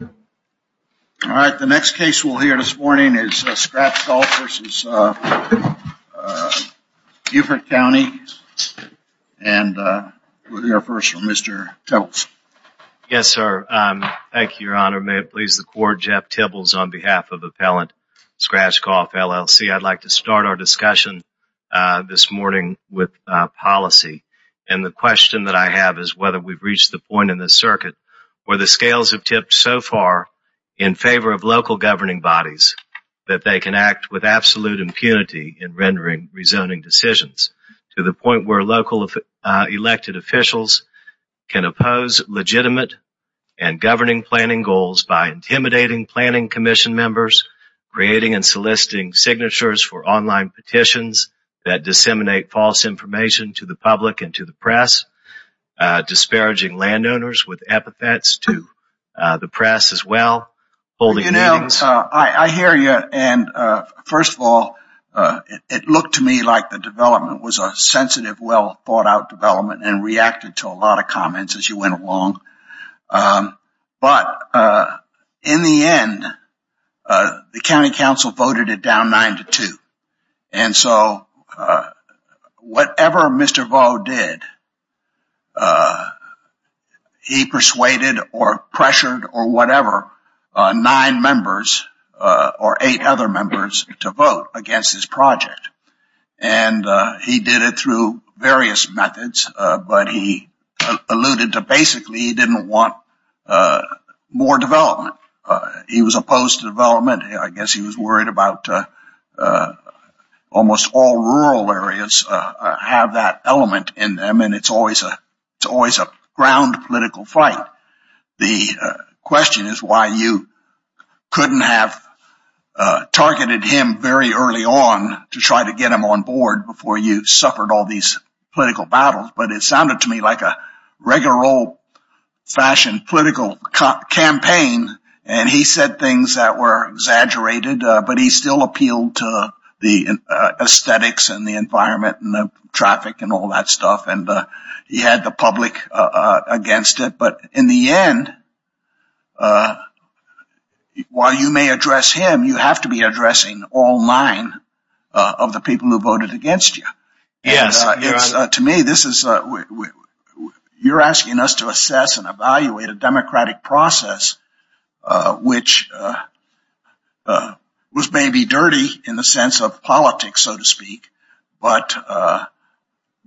All right, the next case we'll hear this morning is Scratch Golf versus Beaufort County and we'll hear first from Mr. Tibbles. Yes, sir. Thank you, Your Honor. May it please the Court, Jeff Tibbles on behalf of Appellant Scratch Golf, LLC. I'd like to start our discussion this morning with policy and the question that I have is whether we've reached the point in the circuit where the scales have tipped so far in favor of local governing bodies that they can act with absolute impunity in rendering rezoning decisions to the point where local elected officials can oppose legitimate and governing planning goals by intimidating planning commission members, creating and soliciting signatures for online petitions that disseminate false information to the public and to the disparaging landowners with epithets to the press as well. I hear you and first of all, it looked to me like the development was a sensitive, well thought out development and reacted to a lot of comments as you went along. But in the end, the County Council voted it down 9-2. And so whatever Mr. Vaughn did, he persuaded or pressured or whatever nine members or eight other members to vote against this project. And he did it through various methods but he alluded to basically he didn't want more development. He was opposed to development. I guess he was worried about almost all rural areas have that element in them and it's always a ground political fight. The question is why you couldn't have targeted him very early on to try to get him on board before you suffered all these political battles. But it sounded to me like a regular old-fashioned political campaign and he said things that were exaggerated but he still appealed to the aesthetics and the environment and the traffic and all that stuff. And he had the public against it. But in the end, while you may address him, you have to be you're asking us to assess and evaluate a democratic process which was maybe dirty in the sense of politics, so to speak. But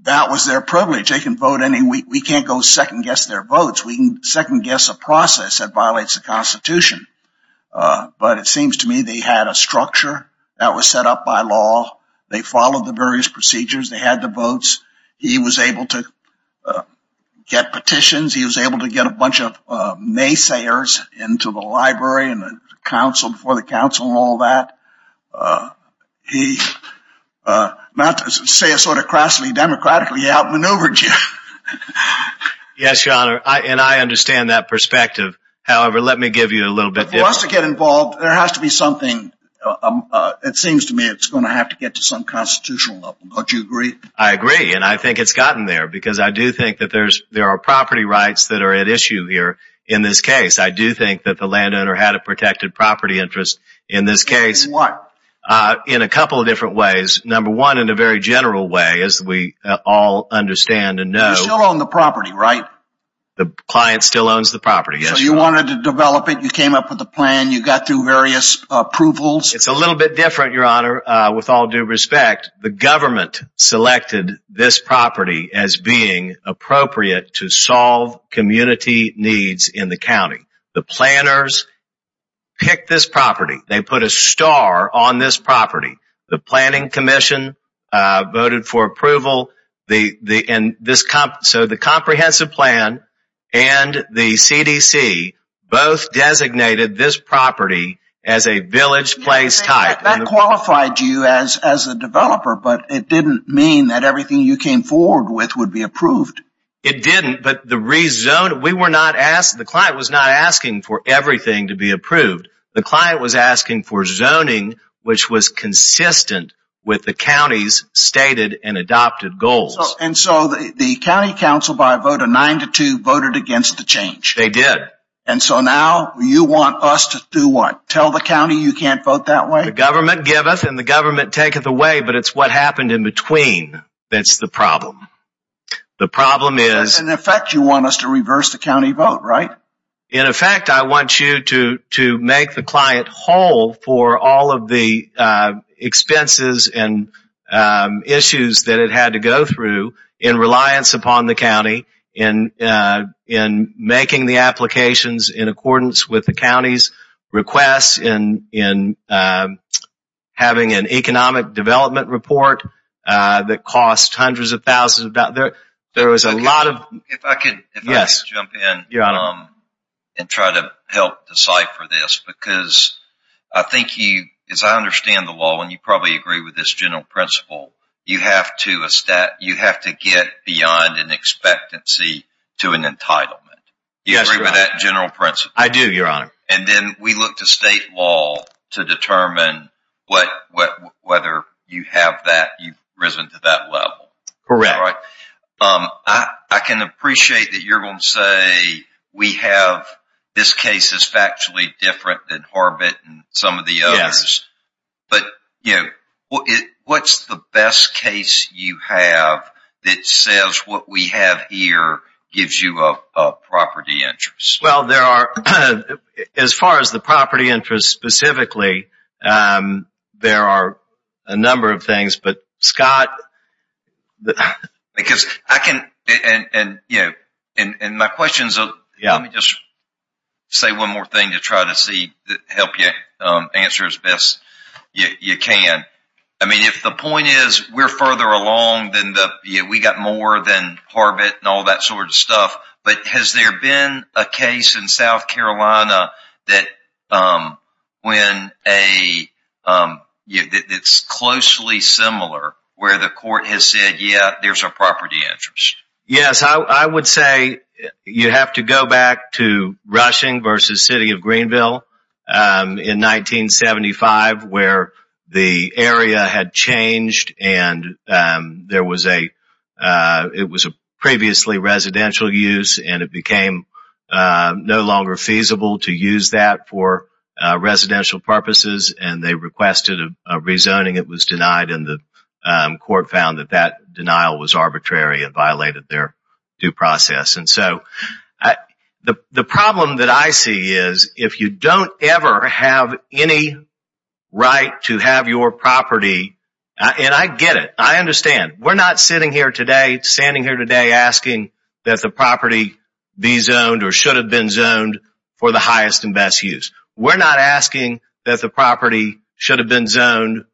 that was their privilege. They can vote any we can't go second guess their votes. We can second guess a process that violates the Constitution. But it seems to me they had a structure that was set up by law. They followed the various procedures. They had the votes. He was able to get petitions. He was able to get a bunch of naysayers into the library and the council before the council and all that. He, not to say a sort of crassly democratically, outmaneuvered you. Yes, your honor. And I understand that perspective. However, let me give you a little bit. For us to get involved, there has to be something. It seems to me it's going to have to get to some constitutional level. Don't you agree? I agree. And I think it's gotten there because I do think that there are property rights that are at issue here in this case. I do think that the landowner had a protected property interest in this case. In what? In a couple of different ways. Number one, in a very general way, as we all understand and know. You still own the property, right? The client still owns the property. So you wanted to develop it. You came up with a plan. You got through various approvals. It's a little bit different, your honor. With all due respect, the government selected this property as being appropriate to solve community needs in the county. The planners picked this property. They put a star on this property. The planning commission voted for approval. So the comprehensive plan and the CDC both designated this property as a village place type. That qualified you as a developer, but it didn't mean that everything you came forward with would be approved. It didn't, but the reason we were not asked, the client was not asking for everything to be approved. The client was asking for zoning, which was consistent with the county's stated and adopted goals. And so the county council by 9-2 voted against the change. They did. And so now you want us to do what? Tell the county you can't vote that way? The government giveth and the government taketh away, but it's what happened in between that's the problem. The problem is... In effect, you want us to reverse the county vote, right? In effect, I want you to make the client whole for all of the expenses and issues that it had to go through in reliance upon the county in making the applications in accordance with the county's requests in having an economic development report that cost hundreds of thousands of dollars. There was a lot of... If I could jump in and try to help decipher this, because I think you, as I understand the law, and you probably agree with this general principle, you have to get beyond an expectancy to an entitlement. Do you agree with that general principle? I do, your honor. And then we look to state law to determine whether you have that, you've risen to that level. Correct. I can appreciate that you're going to say, we have... This case is factually different than Horvitz and some of the others, but what's the best case you have that says what we have here gives you a property interest? Well, there are, as far as the property interest specifically, there are a number of things, but Scott... And my question is... Let me just say one more thing to try to help you answer as best you can. If the point is we're further along than the... We got more than Horvitz and all that sort of stuff, but has there been a case in South Carolina that when a... It's closely similar where the court has said, yeah, there's a property interest. Yes, I would say you have to go back to Rushing versus City of Greenville in 1975 where the area had changed and there was a... It was a previously residential use and it became no longer feasible to use that for residential purposes and they requested a rezoning. It was denied and the denial was arbitrary and violated their due process. And so, the problem that I see is if you don't ever have any right to have your property... And I get it. I understand. We're not sitting here today, standing here today asking that the property be zoned or should have been zoned for the highest and best use. We're not asking that the property should have been zoned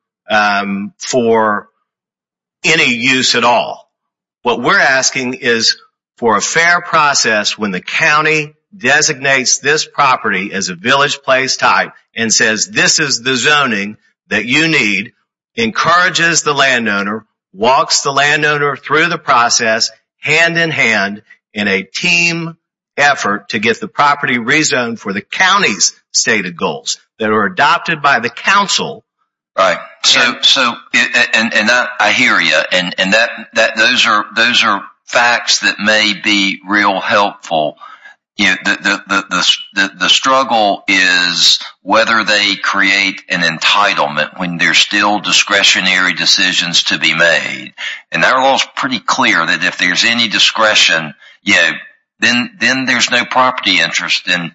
for any use at all. What we're asking is for a fair process when the county designates this property as a village place type and says, this is the zoning that you need, encourages the landowner, walks the landowner through the process hand in hand in a team effort to get the property rezoned for the county's stated goals that are adopted by the council. Right. So, and I hear you. And those are facts that may be real helpful. The struggle is whether they create an entitlement when there's still discretionary decisions to be made. And our law is pretty clear that if there's any discretion, you know, then there's no property interest. And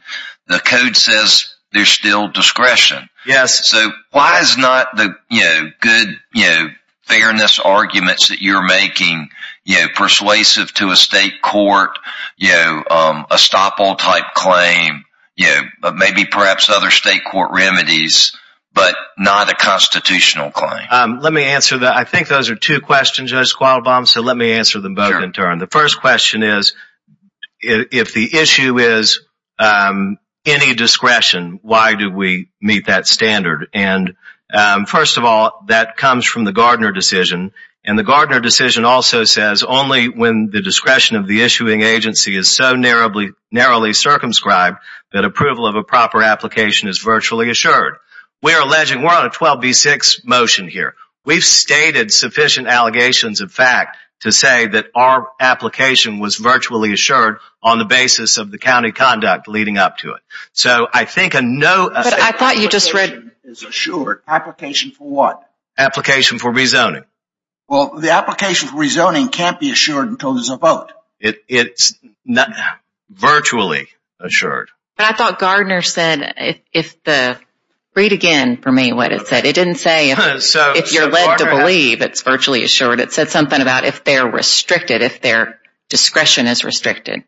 the code says there's still discretion. Yes. So, why is not the, you know, good, you know, fairness arguments that you're making, you know, persuasive to a state court, you know, a stop all type claim, you know, but maybe perhaps other state court remedies, but not a constitutional claim. Let me answer that. I think those are two questions, so let me answer them both in turn. The first question is, if the issue is any discretion, why do we meet that standard? And first of all, that comes from the Gardner decision. And the Gardner decision also says only when the discretion of the issuing agency is so narrowly circumscribed that approval of a proper application is virtually assured. We're alleging, we're on a 12B6 motion here. We've stated sufficient allegations of fact to say that our application was virtually assured on the basis of the county conduct leading up to it. So, I think a no... But I thought you just read... Is assured. Application for what? Application for rezoning. Well, the application for rezoning can't be assured until there's a vote. It's virtually assured. But I thought Gardner said, if the... Read again for me what it said. It didn't say if you're led to believe it's virtually assured. It said something about if they're restricted, if their discretion is restricted.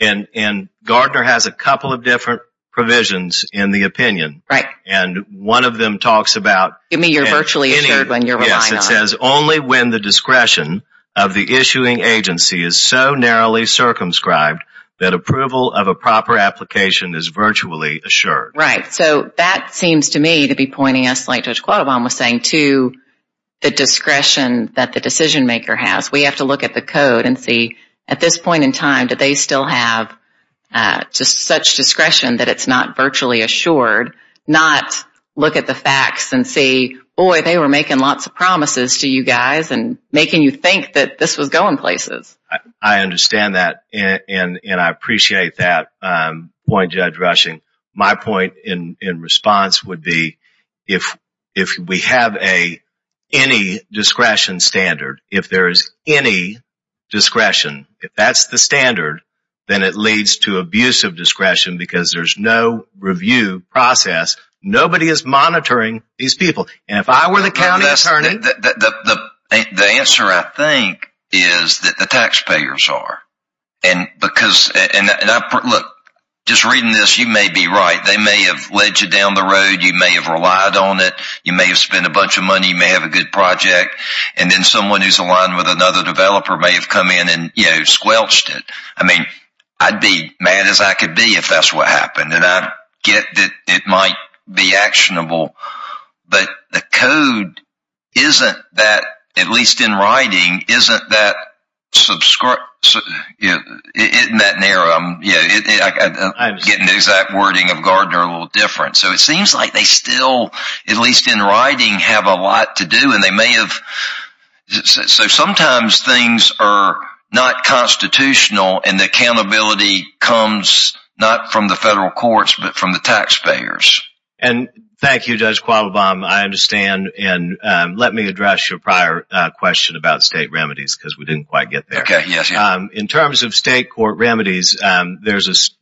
And Gardner has a couple of different provisions in the opinion. Right. And one of them talks about... You mean you're virtually assured when you're relying on... Only when the discretion of the issuing agency is so narrowly circumscribed that approval of a proper application is virtually assured. Right. So, that seems to me to be pointing us, like Judge Quattlebaum was saying, to the discretion that the decision maker has. We have to look at the code and see, at this point in time, do they still have such discretion that it's not virtually assured? Not look at the facts and see, boy, they were making lots of promises to you guys and making you think that this was going places. I understand that and I appreciate that point, Judge Rushing. My point in response would be, if we have any discretion standard, if there is any discretion, if that's the standard, then it leads to abuse of discretion because there's no review process. Nobody is monitoring these people. And if I were the county attorney... The answer, I think, is that the taxpayers are. And because... Look, just reading this, you may be right. They may have led you down the road. You may have relied on it. You may have spent a bunch of money. You may have a good project. And then someone who's aligned with another developer may have come in and squelched it. I'd be mad as I could be if that's what happened. And I get that it might be actionable. But the code isn't that, at least in writing, isn't that... Getting the exact wording of Gardner a little different. So it seems like they still, at least in writing, have a lot to do. And they may have... So sometimes things are not constitutional and the accountability comes not from the federal courts, but from the taxpayers. And thank you, Judge Quavobam. I understand. And let me address your prior question about state remedies because we didn't quite get there. In terms of state court remedies, there's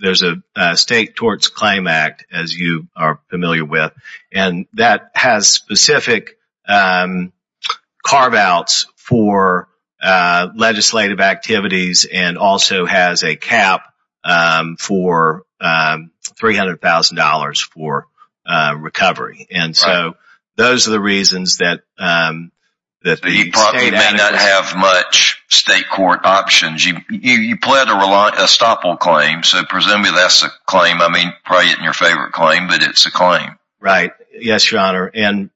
a State Torts Claim Act, as you are familiar with, and that has specific carve-outs for legislative activities and also has a cap for $300,000 for recovery. And so those are the reasons that... You probably may not have much state court options. You pled a reliable claim, so presumably that's a claim. I mean, probably isn't your favorite claim, but it's a claim. Right. Yes, Your Honor. And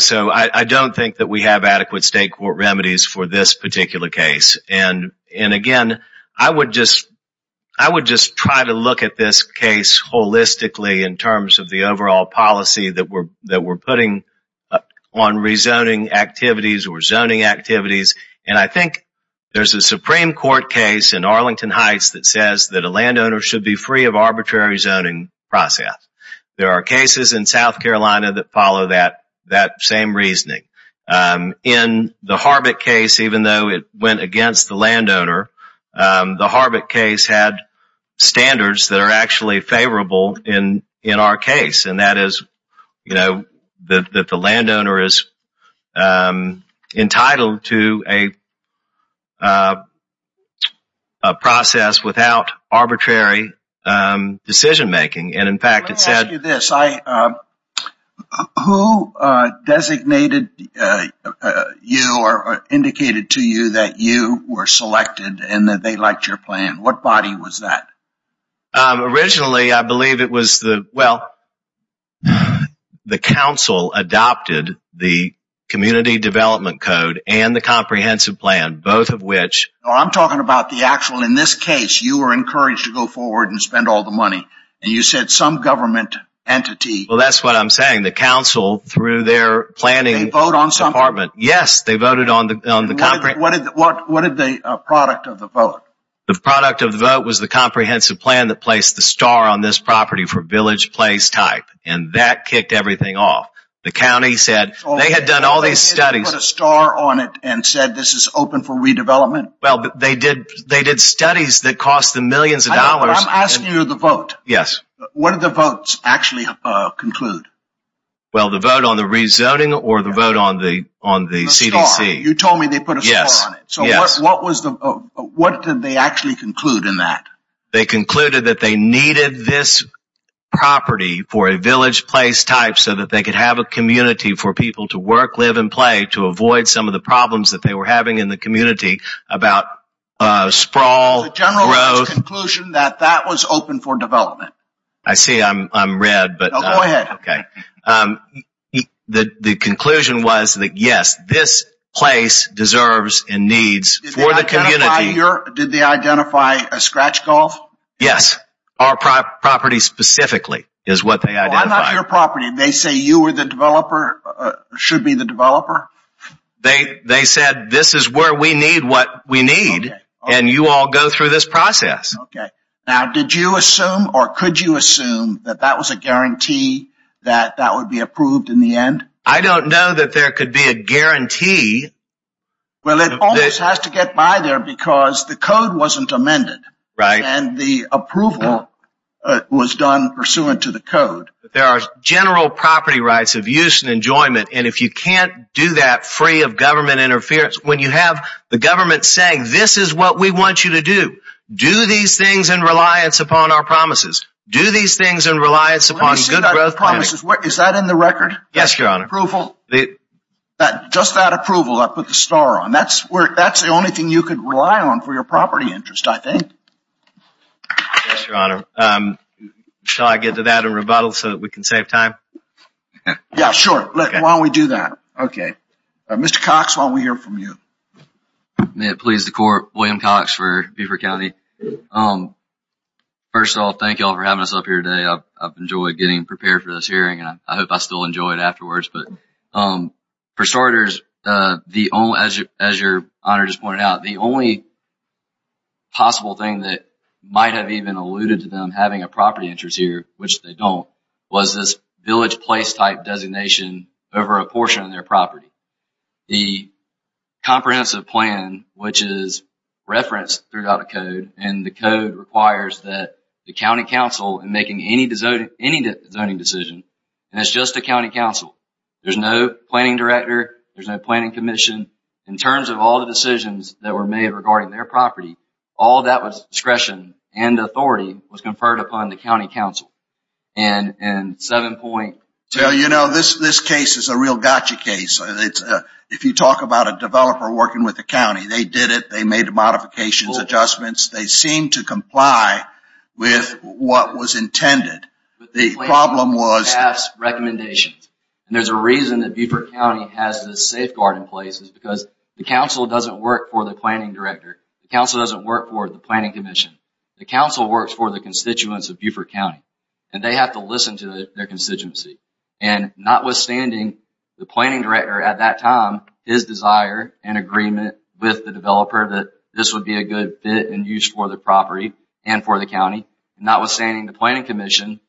so I don't think that we have adequate state court remedies for this particular case. And again, I would just try to look at this case holistically in terms of the overall policy that we're putting on rezoning activities or zoning activities. And I think there's a Supreme Court case in Arlington Heights that says that a landowner should be free of arbitrary zoning process. There are cases in South Carolina that follow that same reasoning. In the Harvick case, even though it went against the landowner, the Harvick case had standards that are actually favorable in our case. And that is that the decision-making. And in fact, it said... Let me ask you this. Who designated you or indicated to you that you were selected and that they liked your plan? What body was that? Originally, I believe it was the... Well, the council adopted the community development code and the comprehensive plan, both of which... I'm talking about the actual... In this case, you were encouraged to go forward and spend all the money. And you said some government entity... Well, that's what I'm saying. The council, through their planning... They vote on something? Yes, they voted on the... What did they... A product of the vote? The product of the vote was the comprehensive plan that placed the star on this property for village place type. And that kicked everything off. The county said... They had done all these studies... They put a star on it and said, this is open for redevelopment? Well, they did studies that cost them millions of dollars... I'm asking you the vote. Yes. What did the votes actually conclude? Well, the vote on the rezoning or the vote on the CDC? You told me they put a star on it. So what did they actually conclude in that? They concluded that they needed this property for a village place type so that they could have a community for people to work, live, and play to avoid some of the problems that they were having in the community about sprawl... The general conclusion that that was open for development. I see I'm red, but... No, go ahead. Okay. The conclusion was that, yes, this place deserves and needs for the community... Did they identify a scratch golf? Yes. Our property specifically is what they identified. Well, I'm not your property. They say you were the developer, should be the developer? They said, this is where we need what we need, and you all go through this process. Okay. Now, did you assume or could you assume that that was a guarantee that that would be approved in the end? I don't know that there could be a guarantee. Well, it always has to get by there because the code wasn't amended. Right. And the approval was done pursuant to the code. There are general property rights of use and enjoyment. And if you can't do that free of government interference, when you have the government saying, this is what we want you to do, do these things in reliance upon our promises. Do these things in reliance upon good growth plans. Is that in the record? Yes, your honor. Approval? Just that approval, I put the star on. That's the only thing you could rely on for your property interest, I think. Yes, your honor. Shall I get to that and rebuttal so that we can save time? Yeah, sure. Why don't we do that? Okay. Mr. Cox, why don't we hear from you? May it please the court. William Cox for Beaufort County. First of all, thank you all for having us up here today. I've enjoyed getting prepared for this hearing, and I hope I still enjoy it afterwards. But for starters, as your honor just pointed out, the only possible thing that might have even alluded to them having a property interest here, which they don't, was this village place type designation over a portion of their property. The comprehensive plan, which is referenced throughout a code, and the code requires that the county council in making any zoning decision, and it's just the county council, there's no planning director, there's no planning commission. In terms of all the decisions that were made regarding their property, all of that was discretion and authority was conferred upon the county council. And seven point... So, you know, this case is a real gotcha case. If you talk about a developer working with the county, they did it. They made modifications, adjustments. They seem to comply with what was intended. The problem was... ...recommendations. And there's a reason that Beaufort County has this safeguard in place, because the council doesn't work for the planning director. The council doesn't work for the planning commission. The council works for the constituents of Beaufort County, and they have to listen to their constituency. And notwithstanding, the planning director at that time, his desire and agreement with the developer that this would be a good fit and use for the property and for the county, notwithstanding the planning commission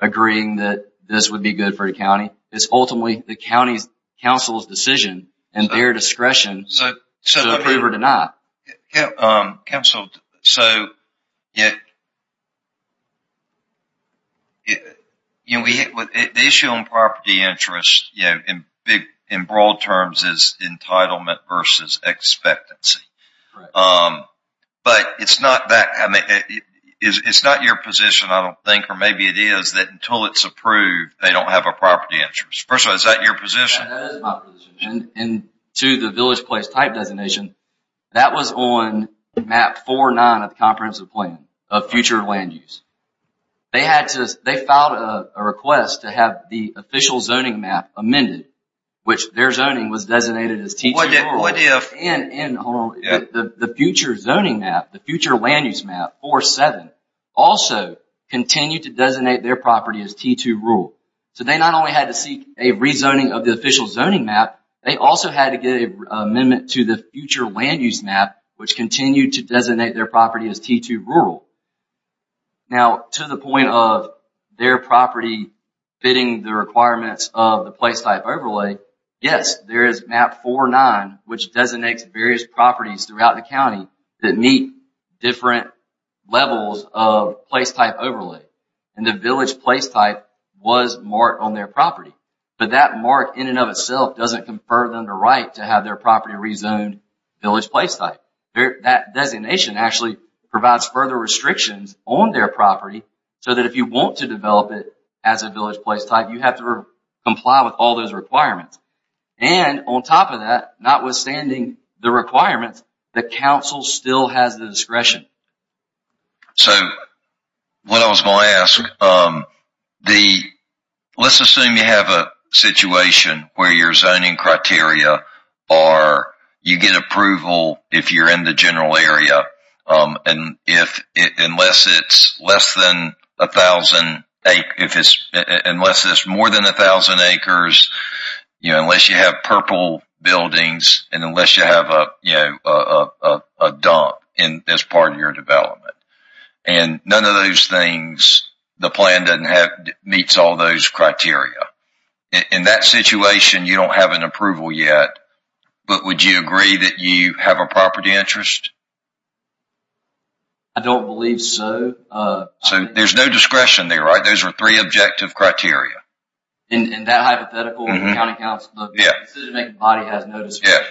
agreeing that this would be good for the county, it's ultimately the county's council's decision and their discretion to approve or to not. Council, so... The issue on property interest in broad terms is entitlement versus expectancy. But it's not that... It's not your position, I don't think, or maybe it is, that until it's approved, they don't have a property interest. First of all, is that your position? That is my position. And to the village place type designation, that was on map 4-9 of the comprehensive plan of future land use. They had to... They filed a request to have the official zoning map amended, which their zoning was designated as T-2 rules. What if... And the future zoning map, the future land use map, 4-7, also continued to designate their property as T-2 rule. So they not only had to seek a rezoning of the official zoning map, they also had to get an amendment to the future land use map, which continued to designate their property as T-2 rule. Now, to the point of their property fitting the requirements of the place type overlay, yes, there is map 4-9, which designates various properties throughout the county that meet different levels of place type overlay. And the village place type was marked on their property. But that mark in and of itself doesn't confer them the right to have their property rezoned village place type. That designation actually provides further restrictions on their property so that if you want to develop it as a village place type, you have to comply with all those requirements. And on top of that, notwithstanding the requirements, the council still has the discretion. So what I was going to ask, let's assume you have a situation where your zoning criteria are you get approval if you're in the general area. And unless it's more than 1,000 acres, you know, unless you have purple buildings, and unless you have a, you know, a dump in this part of your development. And none of those things, the plan doesn't have meets all those criteria. In that situation, you don't have an approval yet. But would you agree that you have a property interest? I don't believe so. So there's no discretion there, right? Those are three objective criteria. In that hypothetical, the county council, the decision-making body has no discretion.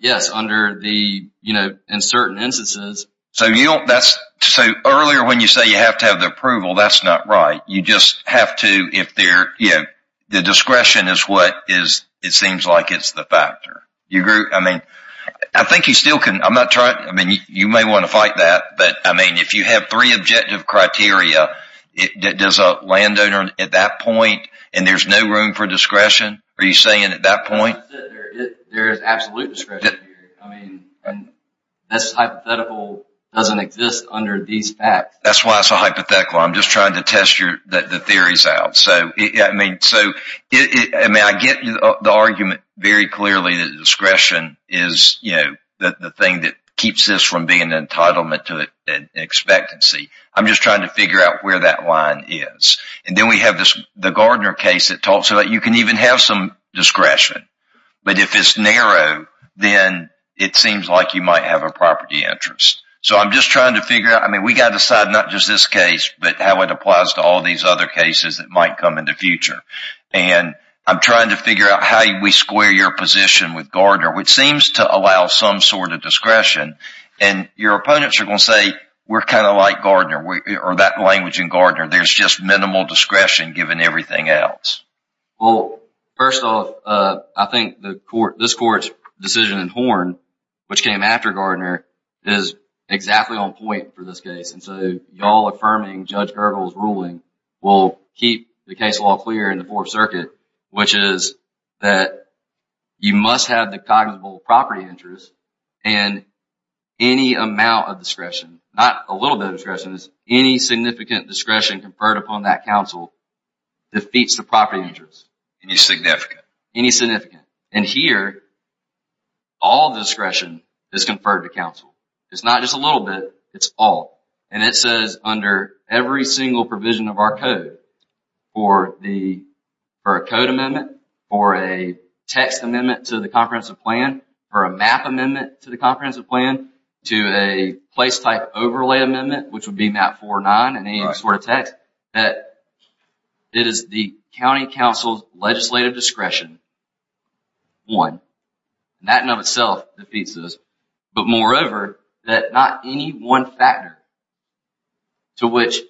Yes, under the, you know, in certain instances. So you don't, that's, so earlier when you say you have to have the approval, that's not right. You just have to, if they're, you know, the discretion is what is, it seems like it's the factor. You agree? I mean, I think you still can, I'm not trying, I mean, you may want to fight that. But, I mean, if you have three objective criteria, does a landowner at that point, and there's no room for discretion? Are you saying at that point? There is absolute discretion here. I mean, this hypothetical doesn't exist under these facts. That's why it's a hypothetical. I'm just trying to test your, the theories out. So, I mean, so, I mean, I get the argument very clearly that discretion is, you know, the thing that keeps this from being an entitlement to expectancy. I'm just trying to figure out where that line is. And then we have this, the Gardner case that talks about you can even have some discretion. But if it's narrow, then it seems like you might have a property interest. So I'm just trying to figure out, I mean, we got to decide not just this case, but how it applies to all these other cases that might come in the future. And I'm trying to figure out how we square your position with Gardner, which seems to allow some sort of discretion. And your opponents are going to say, we're kind of like Gardner, or that language in Gardner. There's just minimal discretion given everything else. Well, first off, I think this court's decision in Horn, which came after Gardner, is exactly on point for this case. And so y'all affirming Judge Gergel's ruling will keep the case law clear in the Fourth Circuit, which is that you must have the cognizable property interest. And any amount of discretion, not a little bit of discretion, is any significant discretion conferred upon that counsel defeats the property interest. Any significant. Any significant. And here, all the discretion is conferred to counsel. It's not just a little bit, it's all. And it says under every single provision of our code, for a code amendment, for a text amendment to the comprehensive plan, for a map amendment to the comprehensive plan, to a place-type overlay amendment, which would be Map 409 and any sort of text, that it is the county counsel's legislative discretion, one. That in and of itself defeats this. But moreover, that not any one factor to which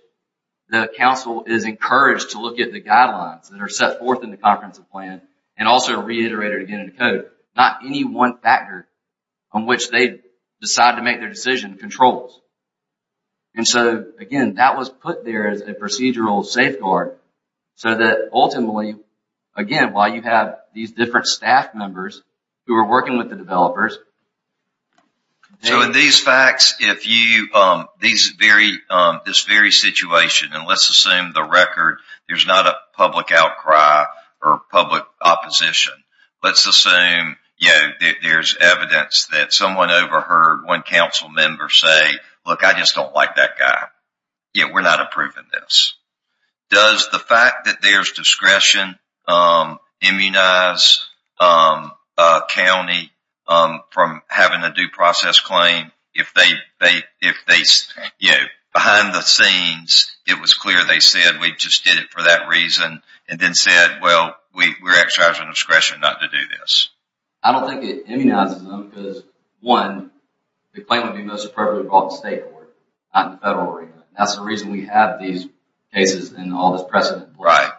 the counsel is encouraged to look at the guidelines that are set forth in the comprehensive plan, and also reiterated again in the code, not any one factor on which they decide to make their decision controls. And so, again, that was put there as a procedural safeguard, so that ultimately, again, while you have these different staff members who are working with the developers. So in these facts, if you, these very, this very situation, and let's assume the record, there's not a public outcry or public opposition. Let's assume, you know, there's evidence that someone overheard one council member say, look, I just don't like that guy. Yeah, we're not approving this. Does the fact that there's discretion immunize a county from having a due process claim if they, you know, behind the scenes, it was clear they said, we just did it for that reason, and then said, well, we're exercising discretion not to do this. I don't think it immunizes them because, one, the claim would be most appropriately brought to the state court, not the federal arena. That's the reason we have these cases and all this precedent. Right.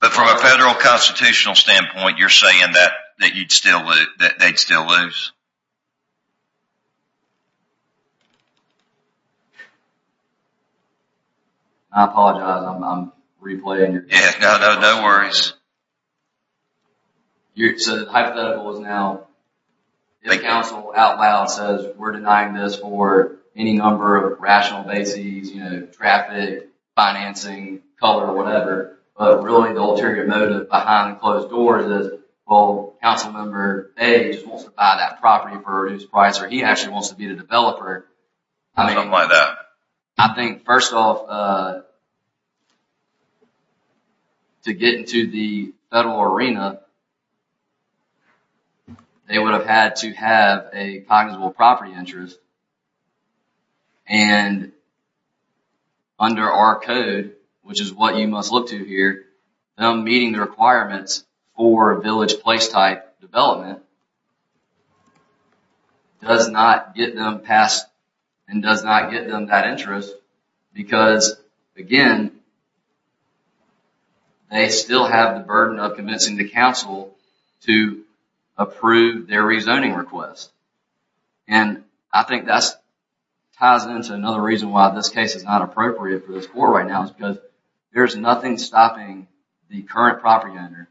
But from a federal constitutional standpoint, you're saying that you'd still, that they'd still lose? I apologize, I'm replaying. Yeah, no worries. So the hypothetical is now, if the council out loud says, we're denying this for any number of rational bases, you know, traffic, financing, color, whatever, but really the ulterior motive behind closed doors is, well, council member A just wants to buy that property for a reduced price, or he actually wants to be the developer. Something like that. I think, first off, to get into the federal arena, they would have had to have a cognizable property interest, and under our code, which is what you must look to here, them meeting the requirements for a village place type development does not get them past and does not get them that interest because, again, to approve their rezoning request. And I think that ties into another reason why this case is not appropriate for this court right now is because there's nothing stopping the current propaganda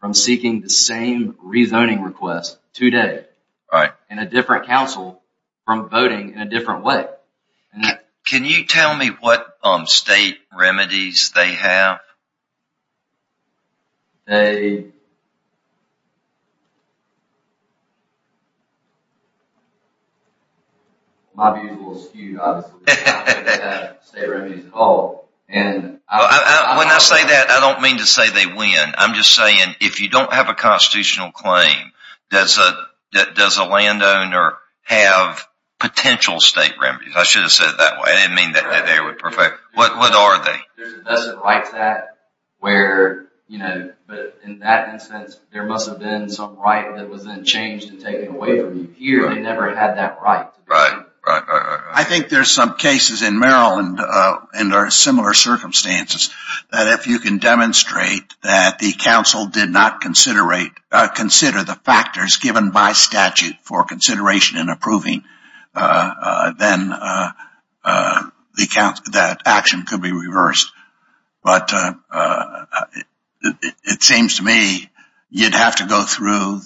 from seeking the same rezoning request today in a different council from voting in a different way. Can you tell me what state remedies they have? They... My view's a little skewed, obviously. I don't think they have state remedies at all, and... Well, when I say that, I don't mean to say they win. I'm just saying, if you don't have a constitutional claim, does a landowner have potential state remedies? I should have said it that way. I didn't mean that they would perfect... What are they? There's a vested right to that where, you know, but in that instance, there must have been some right that was then changed and taken away from you. Here, they never had that right. Right, right. I think there's some cases in Maryland and are similar circumstances that if you can demonstrate that the council did not consider the factors given by statute for consideration and approving, then that action could be reversed. But it seems to me you'd have to go through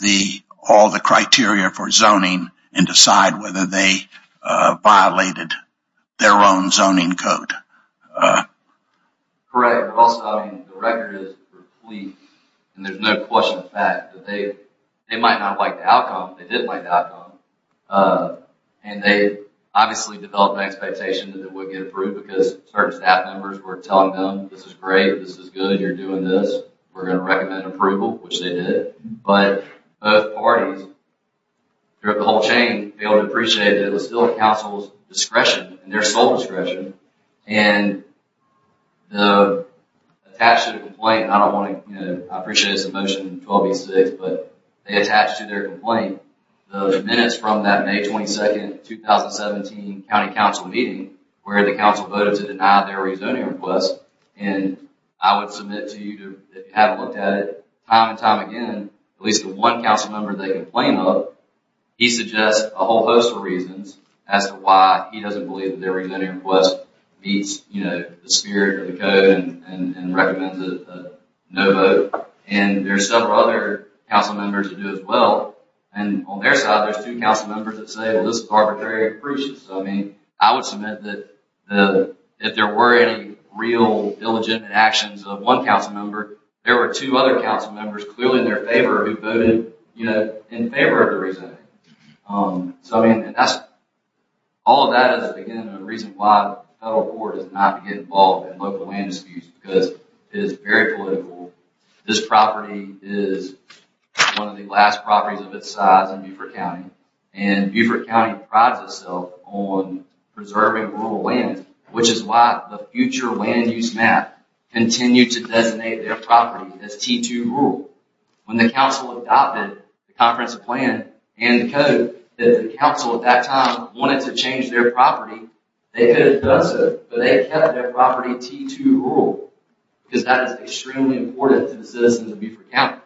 all the criteria for zoning and decide whether they violated their own zoning code. Correct. Also, the record is complete, and there's no question of fact that they might not like the outcome. They did like the outcome. And they obviously developed an expectation that it would get approved because certain staff members were telling them, this is great. This is good. You're doing this. We're going to recommend approval, which they did. But both parties, throughout the whole chain, failed to appreciate that it was still the council's discretion and their sole discretion. And the attached to the complaint... I don't want to... I appreciate this emotion in 1286, but they attached to their complaint. The minutes from that May 22, 2017 county council meeting, where the council voted to deny their rezoning request. And I would submit to you to have looked at it time and time again. At least the one council member they complained of, he suggests a whole host of reasons as to why he doesn't believe that their rezoning request meets the spirit of the code and recommends a no vote. And there's several other council members who do as well. And on their side, there's two council members that say, well, this is arbitrary and fruitless. I would submit that if there were any real illegitimate actions of one council member, there were two other council members clearly in their favor who voted in favor of the rezoning. All of that is, again, a reason why the federal court is not to get involved in local land disputes because it is very political. This property is one of the last properties of its size in Beaufort County. And Beaufort County prides itself on preserving rural land, which is why the future land use map continued to designate their property as T2 rural. When the council adopted the comprehensive plan and the code that the council at that time wanted to change their property, they could have done so, but they kept their property T2 rural because that is extremely important to the citizens of Beaufort County.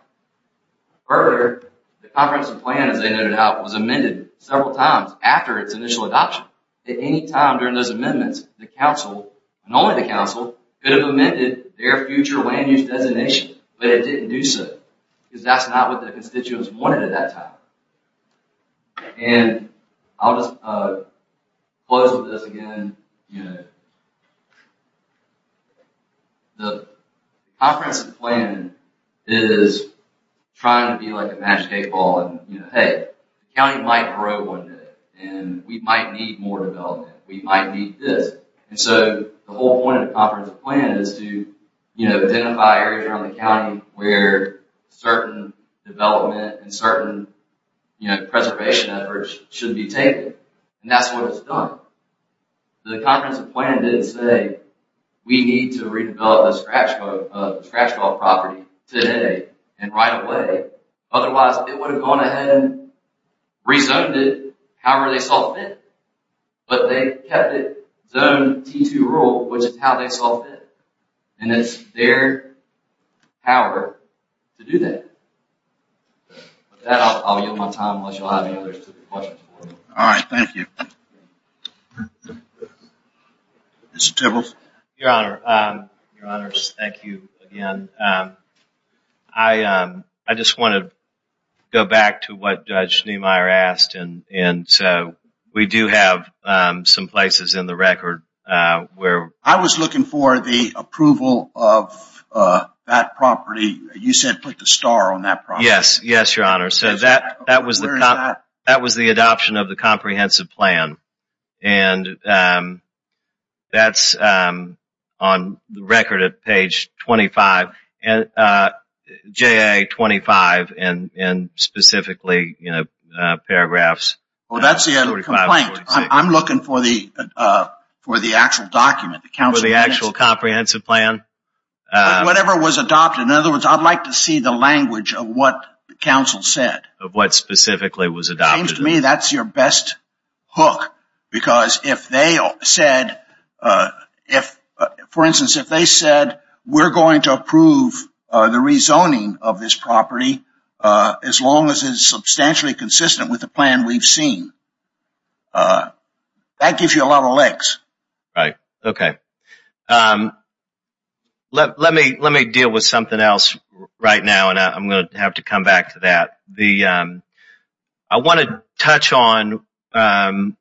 Further, the comprehensive plan, as they noted out, was amended several times after its initial adoption. At any time during those amendments, the council and only the council could have amended their future land use designation, but it didn't do so because that's not what the constituents wanted at that time. And I'll just close with this again. The comprehensive plan is trying to be like a basketball and, hey, the county might grow one day and we might need more development. We might need this. And so the whole point of the comprehensive plan is to identify areas around the county where certain development and certain preservation efforts should be taken. And that's what it's done. The comprehensive plan didn't say, we need to redevelop a scratch ball property today and right away. Otherwise, it would have gone ahead and rezoned it however they saw fit. But they kept it zone T2 rural, which is how they saw fit. And it's their power to do that. With that, I'll yield my time unless you'll have any other questions. All right, thank you. Mr. Tibbles. Your Honor, thank you again. I just want to go back to what Judge Schneemeyer asked. And so we do have some places in the record where... I was looking for the approval of that property. You said put the star on that property. Yes, yes, Your Honor. That was the adoption of the comprehensive plan. And that's on the record at page 25, JA 25, and specifically paragraphs 45 and 46. Well, that's the complaint. I'm looking for the actual document. For the actual comprehensive plan? Whatever was adopted. In other words, I'd like to see the language of what counsel said. Of what specifically was adopted. It seems to me that's your best hook. Because if they said... For instance, if they said, we're going to approve the rezoning of this property as long as it's substantially consistent with the plan we've seen. That gives you a lot of legs. Right, okay. Let me deal with something else right now. I'm going to have to come back to that. I want to touch on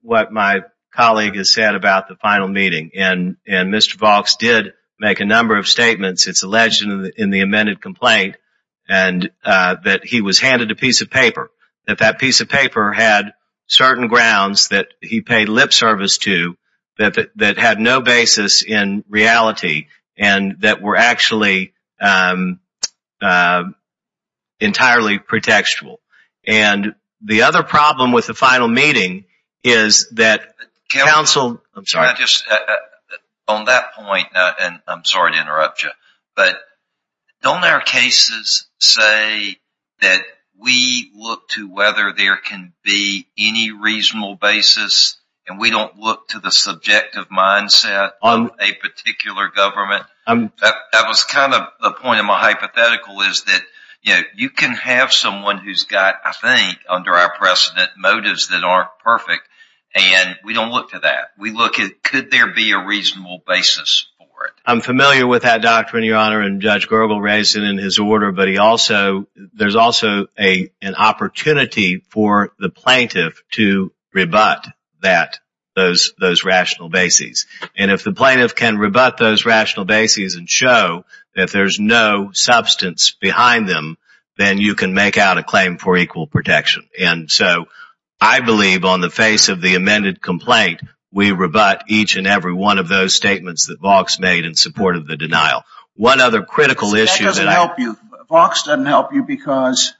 what my colleague has said about the final meeting. And Mr. Vaux did make a number of statements. It's alleged in the amended complaint that he was handed a piece of paper. That that piece of paper had certain grounds that he paid lip service to that had no basis in reality. And that were actually entirely pretextual. And the other problem with the final meeting is that counsel... On that point, and I'm sorry to interrupt you. But don't our cases say that we look to whether there can be any reasonable basis. And we don't look to the subjective mindset of a particular government. That was kind of the point of my hypothetical is that you can have someone who's got, I think under our precedent, motives that aren't perfect. And we don't look to that. We look at could there be a reasonable basis for it. I'm familiar with that doctrine, Your Honor. And Judge Gergel raised it in his order. But there's also an opportunity for the plaintiff to rebut that, those rational bases. And if the plaintiff can rebut those rational bases and show that there's no substance behind them, then you can make out a claim for equal protection. And so I believe on the face of the amended complaint, we rebut each and every one of those statements that Vox made in support of the denial. One other critical issue that I... That doesn't help you. Vox doesn't help you because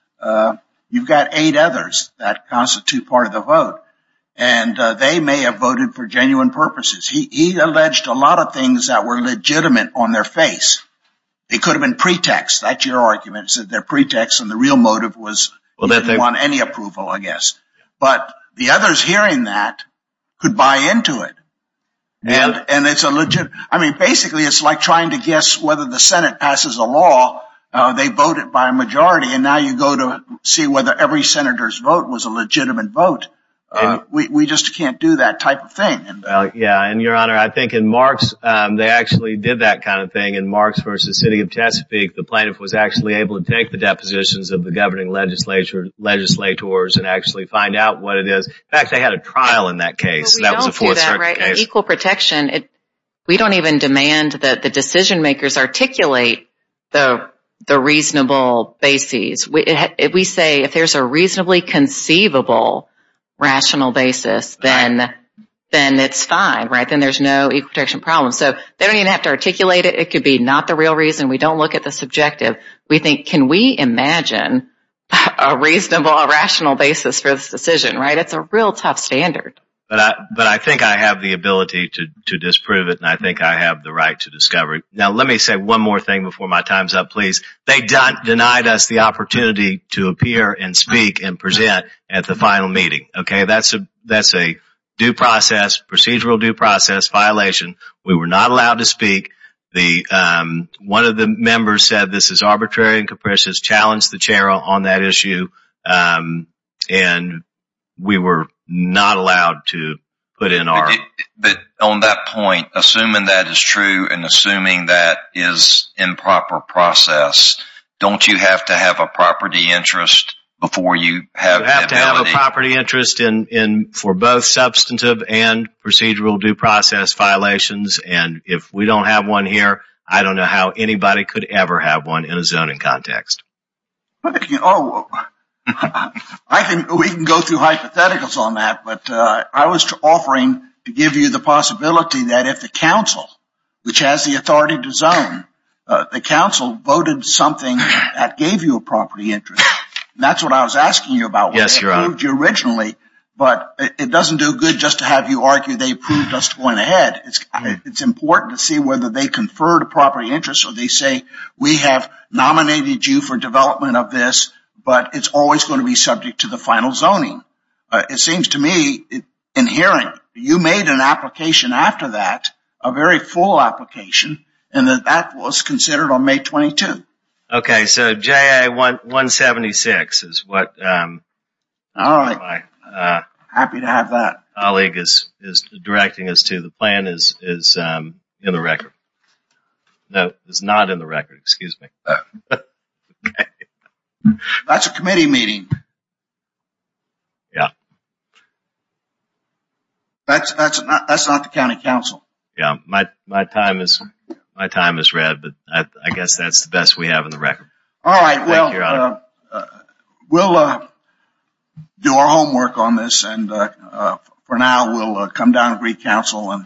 you've got eight others that constitute part of the vote. And they may have voted for genuine purposes. He alleged a lot of things that were legitimate on their face. It could have been pretext. That's your argument, is that they're pretext and the real motive was on any approval, I guess. But the others hearing that could buy into it. And it's a legit... I mean, basically, it's like trying to guess whether the Senate passes a law. They voted by a majority. And now you go to see whether every senator's vote was a legitimate vote. We just can't do that type of thing. Yeah, and Your Honor, I think in Marks, they actually did that kind of thing. In Marks v. City of Chesapeake, the plaintiff was actually able to take the depositions of the governing legislators and actually find out what it is. In fact, they had a trial in that case. That was a Fourth Circuit case. Equal protection. We don't even demand that the decision makers articulate the reasonable basis. We say if there's a reasonably conceivable rational basis, then it's fine, right? Then there's no equal protection problem. So they don't even have to articulate it. It could be not the real reason. We don't look at the subjective. We think, can we imagine a reasonable, a rational basis for this decision, right? It's a real tough standard. But I think I have the ability to disprove it. And I think I have the right to discover it. Now, let me say one more thing before my time's up, please. They denied us the opportunity to appear and speak and present at the final meeting. Okay, that's a due process, procedural due process violation. We were not allowed to speak. One of the members said, this is arbitrary and capricious, challenged the chair on that issue. And we were not allowed to put in our... But on that point, assuming that is true and assuming that is improper process, don't you have to have a property interest before you have... You have to have a property interest for both substantive and procedural due process violations. And if we don't have one here, I don't know how anybody could ever have one in a zoning context. Oh, I think we can go through hypotheticals on that. But I was offering to give you the possibility that if the council, which has the authority to zone, the council voted something that gave you a property interest, that's what I was asking you about. Yes, Your Honor. They approved you originally, but it doesn't do good just to have you argue they approved us going ahead. It's important to see whether they conferred a property interest or they say, we have nominated you for development of this, but it's always going to be subject to the final zoning. It seems to me inherent. You made an application after that, a very full application, and that was considered on May 22. Okay, so JA-176 is what... All right. Happy to have that. Colleague is directing us to the plan is in the record. No, it's not in the record. Excuse me. That's a committee meeting. Yeah. That's not the county council. Yeah, my time is red, but I guess that's the best we have in the record. All right. We'll do our homework on this, and for now, we'll come down and re-council and adjourn.